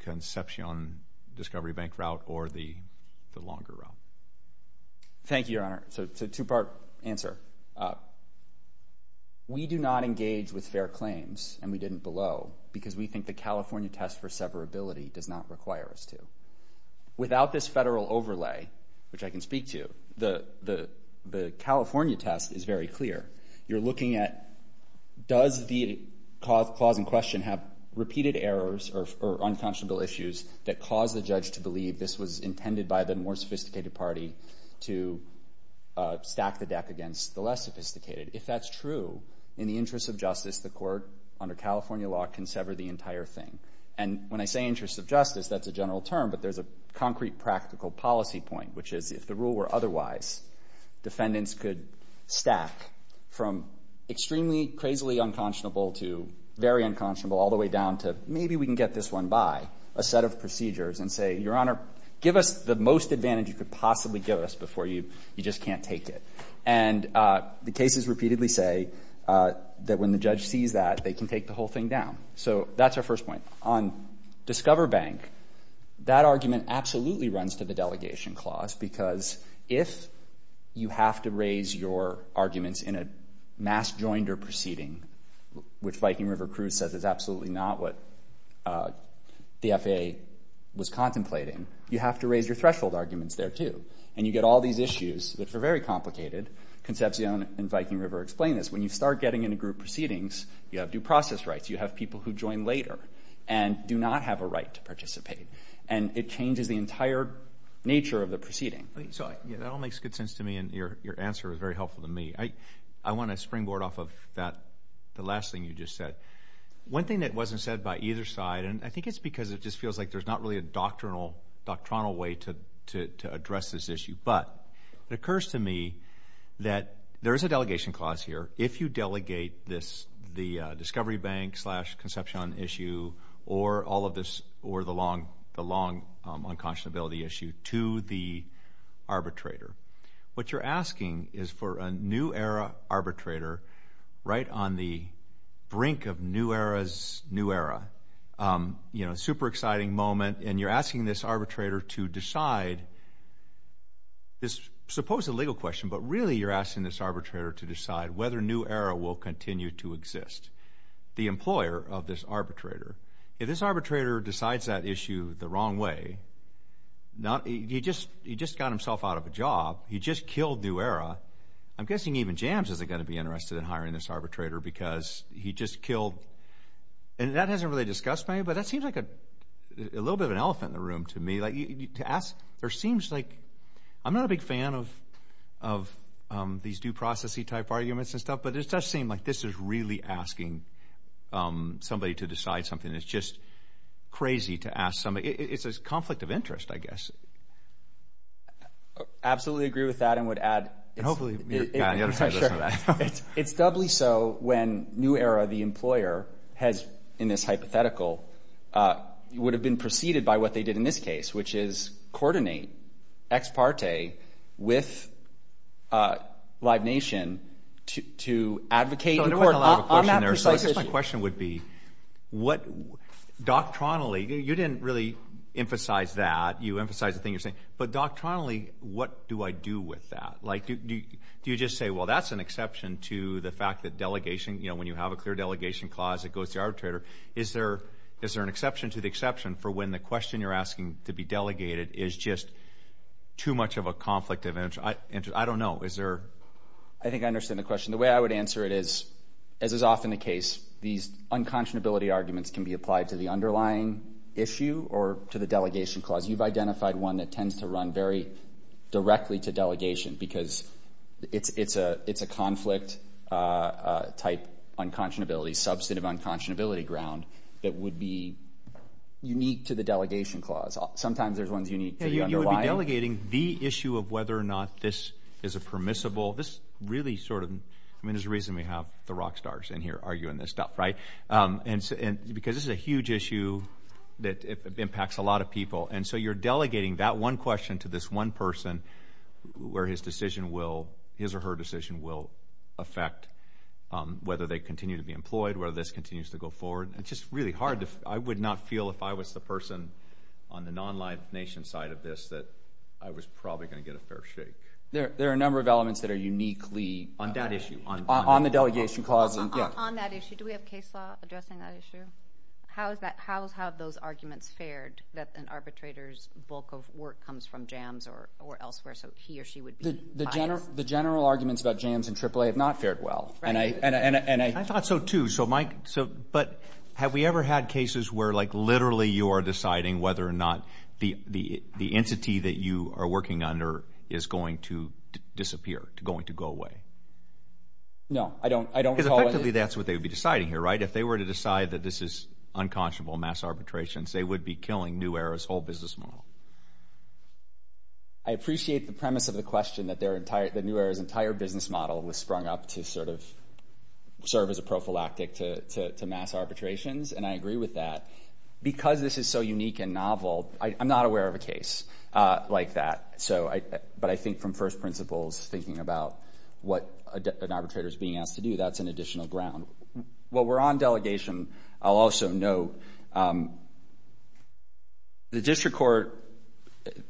conception discovery bank route or the longer route. Thank you, Your Honor. So it's a two-part answer. We do not engage with fair claims, and we didn't below, because we think the California test for severability does not require us to. Without this federal overlay, which I can speak to, the California test is very clear. You're looking at does the cause in question have repeated errors or unconscionable issues that cause the judge to believe this was intended by the more sophisticated party to stack the deck against the less sophisticated. If that's true, in the interest of justice, the court under California law can sever the entire thing. And when I say interest of justice, that's a general term, but there's a concrete practical policy point, which is if the rule were otherwise, defendants could stack from extremely, crazily unconscionable to very unconscionable all the way down to maybe we can get this one by a set of procedures and say, Your Honor, give us the most advantage you could possibly give us before you just can't take it. And the cases repeatedly say that when the judge sees that, they can take the whole thing down. So that's our first point. On Discover Bank, that argument absolutely runs to the delegation clause because if you have to raise your arguments in a mass joinder proceeding, which Viking River Cruise says is absolutely not what the FAA was contemplating, you have to raise your threshold arguments there, too. And you get all these issues that are very complicated. Concepcion and Viking River explain this. When you start getting into group proceedings, you have due process rights. You have people who join later and do not have a right to participate. And it changes the entire nature of the proceeding. So that all makes good sense to me, and your answer was very helpful to me. I want to springboard off of the last thing you just said. One thing that wasn't said by either side, and I think it's because it just feels like there's not really a doctrinal way to address this issue, but it occurs to me that there is a delegation clause here. If you delegate the Discovery Bank slash Concepcion issue or all of this or the long unconscionability issue to the arbitrator, what you're asking is for a new era arbitrator right on the brink of new era's new era. You know, super exciting moment, and you're asking this arbitrator to decide. This is supposed to be a legal question, but really you're asking this arbitrator to decide whether new era will continue to exist. The employer of this arbitrator, if this arbitrator decides that issue the wrong way, he just got himself out of a job. He just killed new era. I'm guessing even Jams isn't going to be interested in hiring this arbitrator because he just killed. And that hasn't really discussed by you, but that seems like a little bit of an elephant in the room to me. To ask, there seems like, I'm not a big fan of these due process-y type arguments and stuff, but it does seem like this is really asking somebody to decide something. It's just crazy to ask somebody. It's a conflict of interest, I guess. I absolutely agree with that and would add. And hopefully you're not going to listen to that. It's doubly so when new era, the employer, has in this hypothetical, would have been preceded by what they did in this case, which is coordinate ex parte with Live Nation to advocate on that precise issue. My question would be what doctrinally, you didn't really emphasize that, you emphasized the thing you're saying, but doctrinally what do I do with that? Do you just say, well, that's an exception to the fact that delegation, when you have a clear delegation clause that goes to the arbitrator, is there an exception to the exception for when the question you're asking to be delegated is just too much of a conflict of interest? I don't know. I think I understand the question. The way I would answer it is, as is often the case, these unconscionability arguments can be applied to the underlying issue or to the delegation clause. You've identified one that tends to run very directly to delegation because it's a conflict type unconscionability, substantive unconscionability ground, that would be unique to the delegation clause. Sometimes there's ones unique to the underlying. You would be delegating the issue of whether or not this is a permissible, this really sort of, I mean there's a reason we have the rock stars in here arguing this stuff, right? Because this is a huge issue that impacts a lot of people, and so you're delegating that one question to this one person where his decision will, his or her decision will affect whether they continue to be employed, whether this continues to go forward. It's just really hard. I would not feel if I was the person on the non-live nation side of this that I was probably going to get a fair shake. There are a number of elements that are uniquely. On that issue. On that issue, do we have case law addressing that issue? How have those arguments fared that an arbitrator's bulk of work comes from JAMS or elsewhere, so he or she would be biased? The general arguments about JAMS and AAA have not fared well. I thought so too. But have we ever had cases where like literally you are deciding whether or not the entity that you are working under is going to disappear, going to go away? No, I don't recall it. Because effectively that's what they would be deciding here, right? If they were to decide that this is unconscionable mass arbitration, they would be killing New Era's whole business model. I appreciate the premise of the question that New Era's entire business model was sprung up to sort of serve as a prophylactic to mass arbitrations, and I agree with that. Because this is so unique and novel, I'm not aware of a case like that. But I think from first principles, thinking about what an arbitrator is being asked to do, that's an additional ground. While we're on delegation, I'll also note the district court,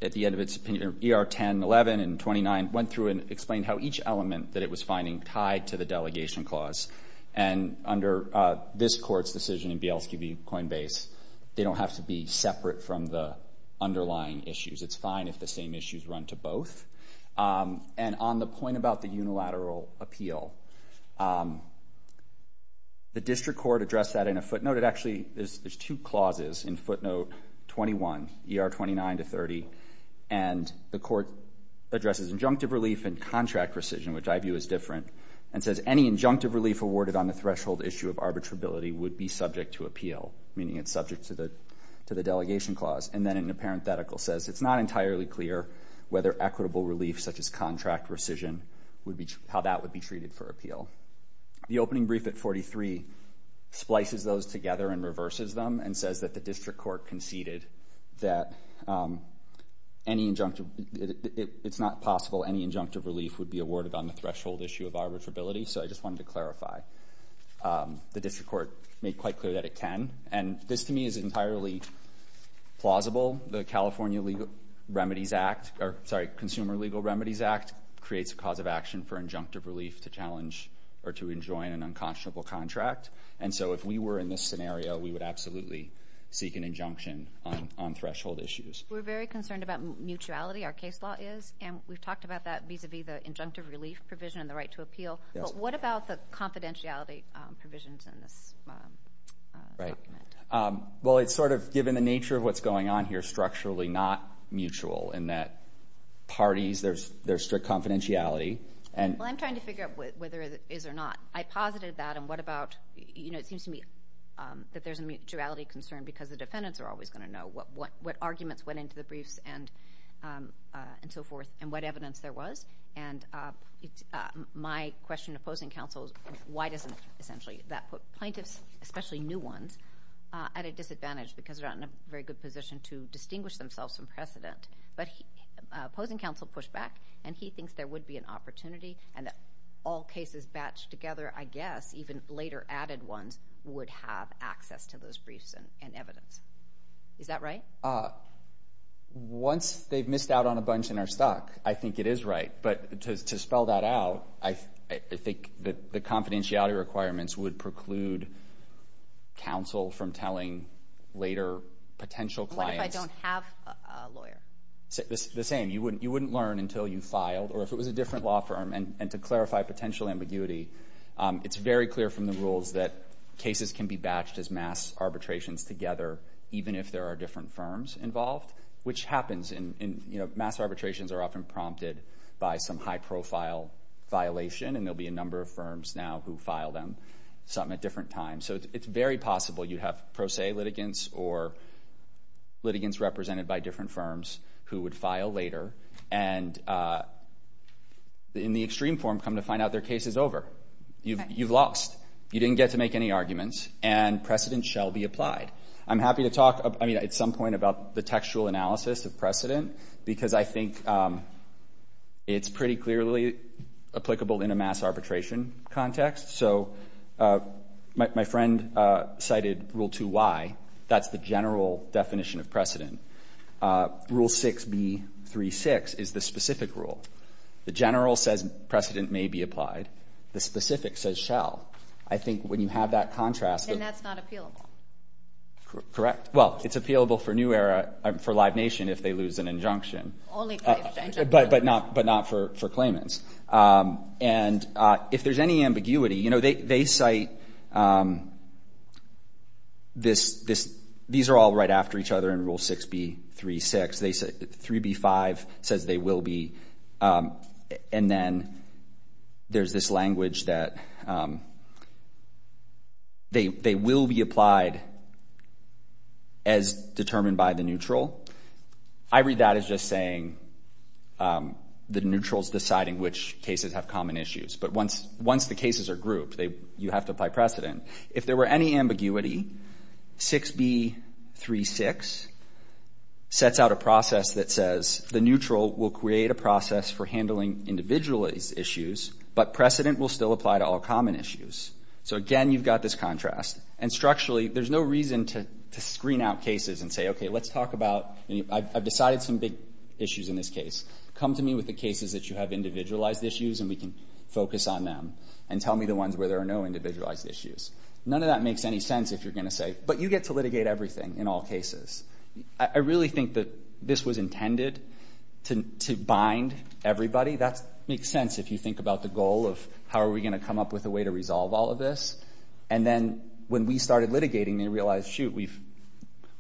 at the end of its opinion, ER 10, 11, and 29 went through and explained how each element that it was finding tied to the delegation clause. And under this court's decision in BLSGB Coinbase, they don't have to be separate from the underlying issues. It's fine if the same issues run to both. And on the point about the unilateral appeal, the district court addressed that in a footnote. Actually, there's two clauses in footnote 21, ER 29 to 30, and the court addresses injunctive relief and contract rescission, which I view as different, and says any injunctive relief awarded on the threshold issue of arbitrability would be subject to appeal, meaning it's subject to the delegation clause. And then in a parenthetical says it's not entirely clear whether equitable relief, such as contract rescission, how that would be treated for appeal. The opening brief at 43 splices those together and reverses them and says that the district court conceded that it's not possible any injunctive relief would be awarded on the threshold issue of arbitrability. So I just wanted to clarify. The district court made quite clear that it can. And this to me is entirely plausible. The California Consumer Legal Remedies Act creates a cause of action for injunctive relief to challenge or to enjoin an unconscionable contract. And so if we were in this scenario, we would absolutely seek an injunction on threshold issues. We're very concerned about mutuality, our case law is, and we've talked about that vis-a-vis the injunctive relief provision and the right to appeal. But what about the confidentiality provisions in this document? Well, it's sort of given the nature of what's going on here, structurally not mutual, in that parties, there's strict confidentiality. Well, I'm trying to figure out whether it is or not. I posited that. And what about, you know, it seems to me that there's a mutuality concern because the defendants are always going to know what arguments went into the briefs and so forth and what evidence there was. And my question to opposing counsel is why doesn't, essentially, that put plaintiffs, especially new ones, at a disadvantage because they're not in a very good position to distinguish themselves from precedent. But opposing counsel pushed back, and he thinks there would be an opportunity and that all cases batched together, I guess, even later added ones, would have access to those briefs and evidence. Is that right? Once they've missed out on a bunch and are stuck, I think it is right. But to spell that out, I think the confidentiality requirements would preclude counsel from telling later potential clients. What if I don't have a lawyer? The same. You wouldn't learn until you filed or if it was a different law firm. The idea is that cases can be batched as mass arbitrations together even if there are different firms involved, which happens. Mass arbitrations are often prompted by some high-profile violation, and there will be a number of firms now who file them, some at different times. So it's very possible you have pro se litigants or litigants represented by different firms who would file later and, in the extreme form, come to find out their case is over. You've lost. You didn't get to make any arguments, and precedent shall be applied. I'm happy to talk at some point about the textual analysis of precedent because I think it's pretty clearly applicable in a mass arbitration context. So my friend cited Rule 2Y. That's the general definition of precedent. Rule 6B36 is the specific rule. The general says precedent may be applied. The specific says shall. I think when you have that contrast. Then that's not appealable. Correct. Well, it's appealable for Live Nation if they lose an injunction. Only if they've changed it. But not for claimants. And if there's any ambiguity, you know, they cite this. These are all right after each other in Rule 6B36. 3B5 says they will be. And then there's this language that they will be applied as determined by the neutral. I read that as just saying the neutral is deciding which cases have common issues. But once the cases are grouped, you have to apply precedent. If there were any ambiguity, 6B36 sets out a process that says the neutral will create a process for handling individual issues, but precedent will still apply to all common issues. So, again, you've got this contrast. And structurally, there's no reason to screen out cases and say, okay, let's talk about I've decided some big issues in this case. Come to me with the cases that you have individualized issues, and we can focus on them. And tell me the ones where there are no individualized issues. None of that makes any sense if you're going to say, but you get to litigate everything in all cases. I really think that this was intended to bind everybody. That makes sense if you think about the goal of how are we going to come up with a way to resolve all of this. And then when we started litigating, they realized, shoot, we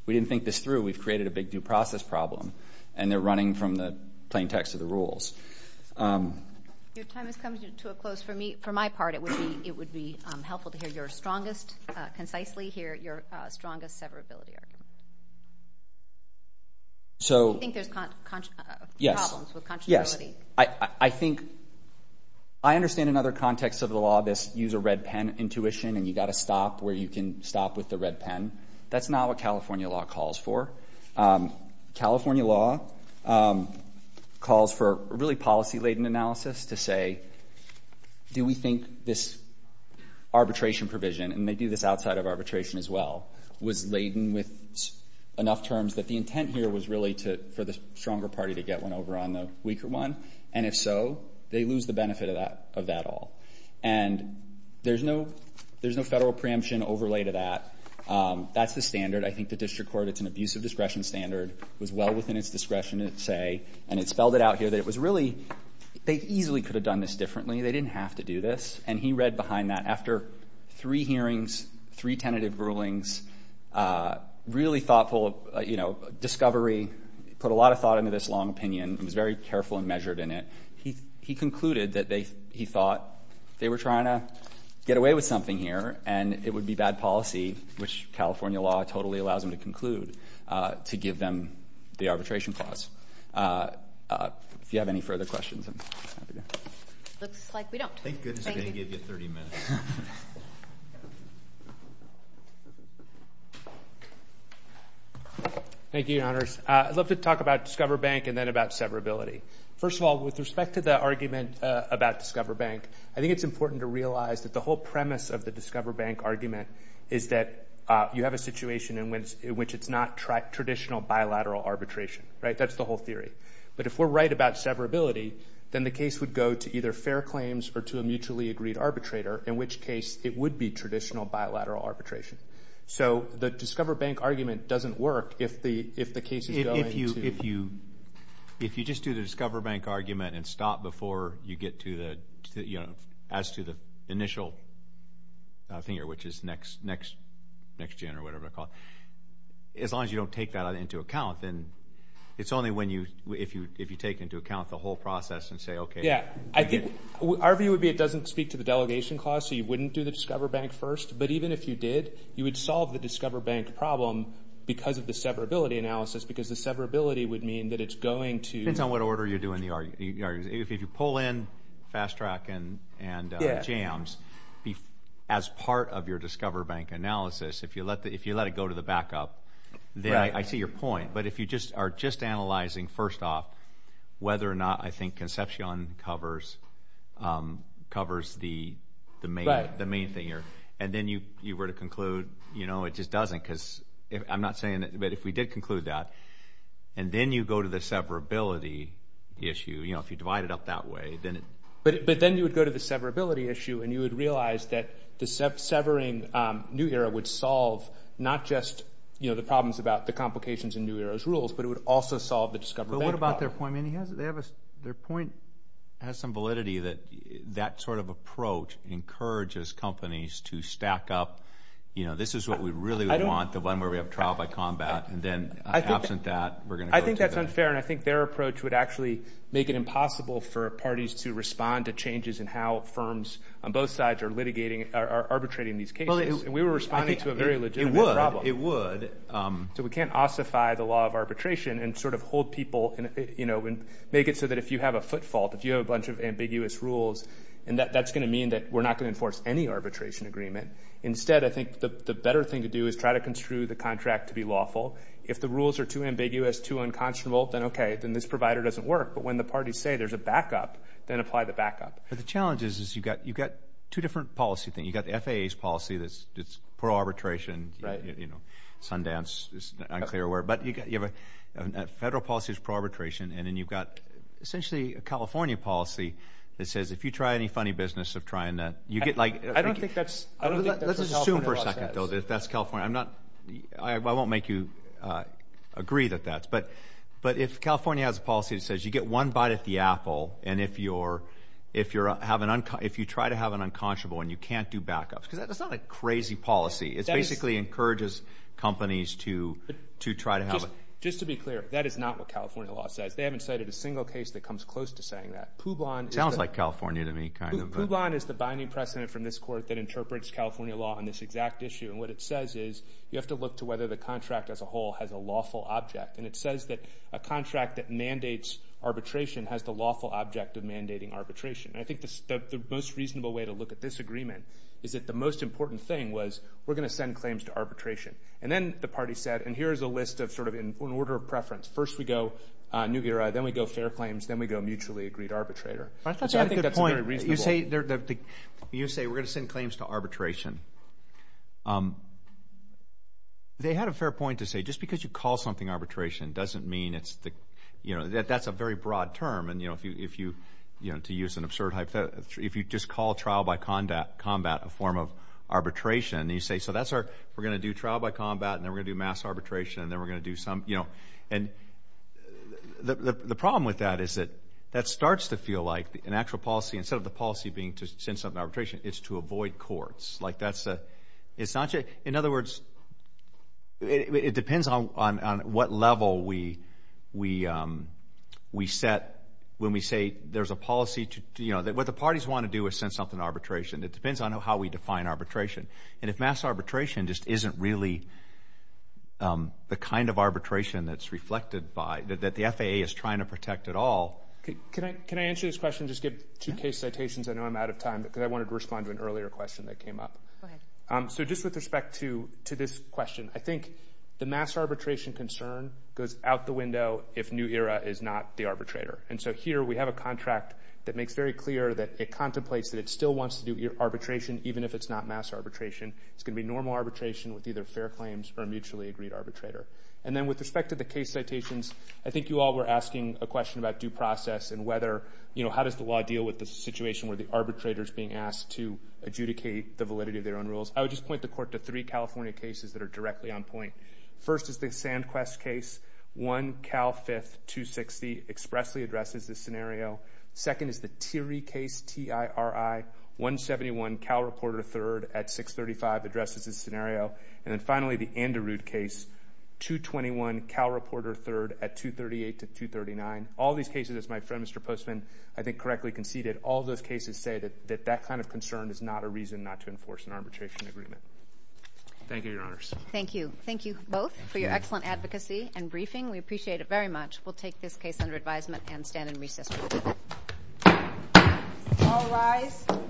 didn't think this through. We've created a big due process problem. And they're running from the plain text of the rules. Your time is coming to a close. For my part, it would be helpful to hear your strongest, concisely hear your strongest severability argument. Do you think there's problems with contravenability? Yes. I think I understand another context of the law, this use a red pen intuition, and you've got to stop where you can stop with the red pen. That's not what California law calls for. California law calls for really policy-laden analysis to say, do we think this arbitration provision, and they do this outside of arbitration as well, was laden with enough terms that the intent here was really for the stronger party to get one over on the weaker one? And if so, they lose the benefit of that all. And there's no federal preemption overlay to that. That's the standard. I think the district court, it's an abusive discretion standard. It was well within its discretion to say, and it spelled it out here, that it was really, they easily could have done this differently. They didn't have to do this. And he read behind that. After three hearings, three tentative rulings, really thoughtful discovery, put a lot of thought into this long opinion and was very careful and measured in it, he concluded that he thought they were trying to get away with something here and it would be bad policy, which California law totally allows them to conclude, to give them the arbitration clause. If you have any further questions. Looks like we don't. Thank goodness they didn't give you 30 minutes. Thank you, Your Honors. I'd love to talk about Discover Bank and then about severability. First of all, with respect to the argument about Discover Bank, I think it's important to realize that the whole premise of the Discover Bank argument is that you have a situation in which it's not traditional bilateral arbitration. Right? That's the whole theory. But if we're right about severability, then the case would go to either fair claims or to a mutually agreed arbitrator, in which case it would be traditional bilateral arbitration. So the Discover Bank argument doesn't work if the case is going to. If you just do the Discover Bank argument and stop before you get to the, you know, as to the initial thing here, which is next January or whatever they're called, as long as you don't take that into account, then it's only when you, if you take into account the whole process and say, okay. Yeah, I think our view would be it doesn't speak to the delegation clause, so you wouldn't do the Discover Bank first. But even if you did, you would solve the Discover Bank problem because of the severability analysis because the severability would mean that it's going to. It depends on what order you're doing the argument. If you pull in fast track and jams as part of your Discover Bank analysis, if you let it go to the backup, then I see your point. But if you just are just analyzing first off whether or not I think Concepcion covers the main thing here, and then you were to conclude, you know, it just doesn't because I'm not saying that. But if we did conclude that, and then you go to the severability issue, you know, if you divide it up that way, then it. But then you would go to the severability issue, and you would realize that the severing New Era would solve not just, you know, the problems about the complications in New Era's rules, but it would also solve the Discover Bank problem. But what about their point? I mean, their point has some validity that that sort of approach encourages companies to stack up, you know, this is what we really want, the one where we have trial by combat. And then absent that, we're going to go through that. I think that's unfair, and I think their approach would actually make it impossible for parties to respond to changes in how firms on both sides are litigating or arbitrating these cases. And we were responding to a very legitimate problem. It would. So we can't ossify the law of arbitration and sort of hold people, you know, and make it so that if you have a foot fault, if you have a bunch of ambiguous rules, and that's going to mean that we're not going to enforce any arbitration agreement. Instead, I think the better thing to do is try to construe the contract to be lawful. If the rules are too ambiguous, too unconscionable, then okay, then this provider doesn't work. But when the parties say there's a backup, then apply the backup. But the challenge is you've got two different policy things. You've got the FAA's policy that's pro-arbitration. Right. You know, Sundance is an unclear word. But you have a federal policy that's pro-arbitration, and then you've got essentially a California policy that says if you try any funny business of trying to – you get like – I don't think that's – I don't think that's what California law says. Let's assume for a second, though, that that's California. I'm not – I won't make you agree that that's – but if California has a policy that says you get one bite at the apple, and if you're – if you try to have an unconscionable and you can't do backups, because that's not a crazy policy. It basically encourages companies to try to have – Just to be clear, that is not what California law says. They haven't cited a single case that comes close to saying that. Puban is the – Sounds like California to me, kind of. Puban is the binding precedent from this court that interprets California law on this exact issue. And what it says is you have to look to whether the contract as a whole has a lawful object. And it says that a contract that mandates arbitration has the lawful object of mandating arbitration. And I think the most reasonable way to look at this agreement is that the most important thing was we're going to send claims to arbitration. And then the party said – and here is a list of sort of in order of preference. First we go Nugira. Then we go fair claims. Then we go mutually agreed arbitrator. I think that's a good point. You say we're going to send claims to arbitration. They had a fair point to say just because you call something arbitration doesn't mean it's the – that's a very broad term. And if you – to use an absurd hypothetical – if you just call trial by combat a form of arbitration, and you say so that's our – we're going to do trial by combat and then we're going to do mass arbitration and then we're going to do some – and the problem with that is that that starts to feel like an actual policy. Instead of the policy being to send something to arbitration, it's to avoid courts. Like that's a – it's not – in other words, it depends on what level we set when we say there's a policy to – what the parties want to do is send something to arbitration. It depends on how we define arbitration. And if mass arbitration just isn't really the kind of arbitration that's reflected by – that the FAA is trying to protect at all. Can I answer this question and just give two case citations? I know I'm out of time because I wanted to respond to an earlier question that came up. Go ahead. So just with respect to this question, I think the mass arbitration concern goes out the window if New Era is not the arbitrator. And so here we have a contract that makes very clear that it contemplates that it still wants to do arbitration even if it's not mass arbitration. It's going to be normal arbitration with either fair claims or a mutually agreed arbitrator. And then with respect to the case citations, I think you all were asking a question about due process and whether – how does the law deal with the situation where the arbitrator is being asked to adjudicate the validity of their own rules? I would just point the court to three California cases that are directly on point. First is the SandQuest case. One, Cal 5th, 260, expressly addresses this scenario. Second is the Thierry case, T-I-R-I, 171. Cal reported a third at 635, addresses this scenario. And then finally, the Anderud case, 221, Cal reported a third at 238 to 239. All these cases, as my friend, Mr. Postman, I think correctly conceded, all those cases say that that kind of concern is not a reason not to enforce an arbitration agreement. Thank you, Your Honors. Thank you. Thank you both for your excellent advocacy and briefing. We appreciate it very much. We'll take this case under advisement and stand in recess. All rise.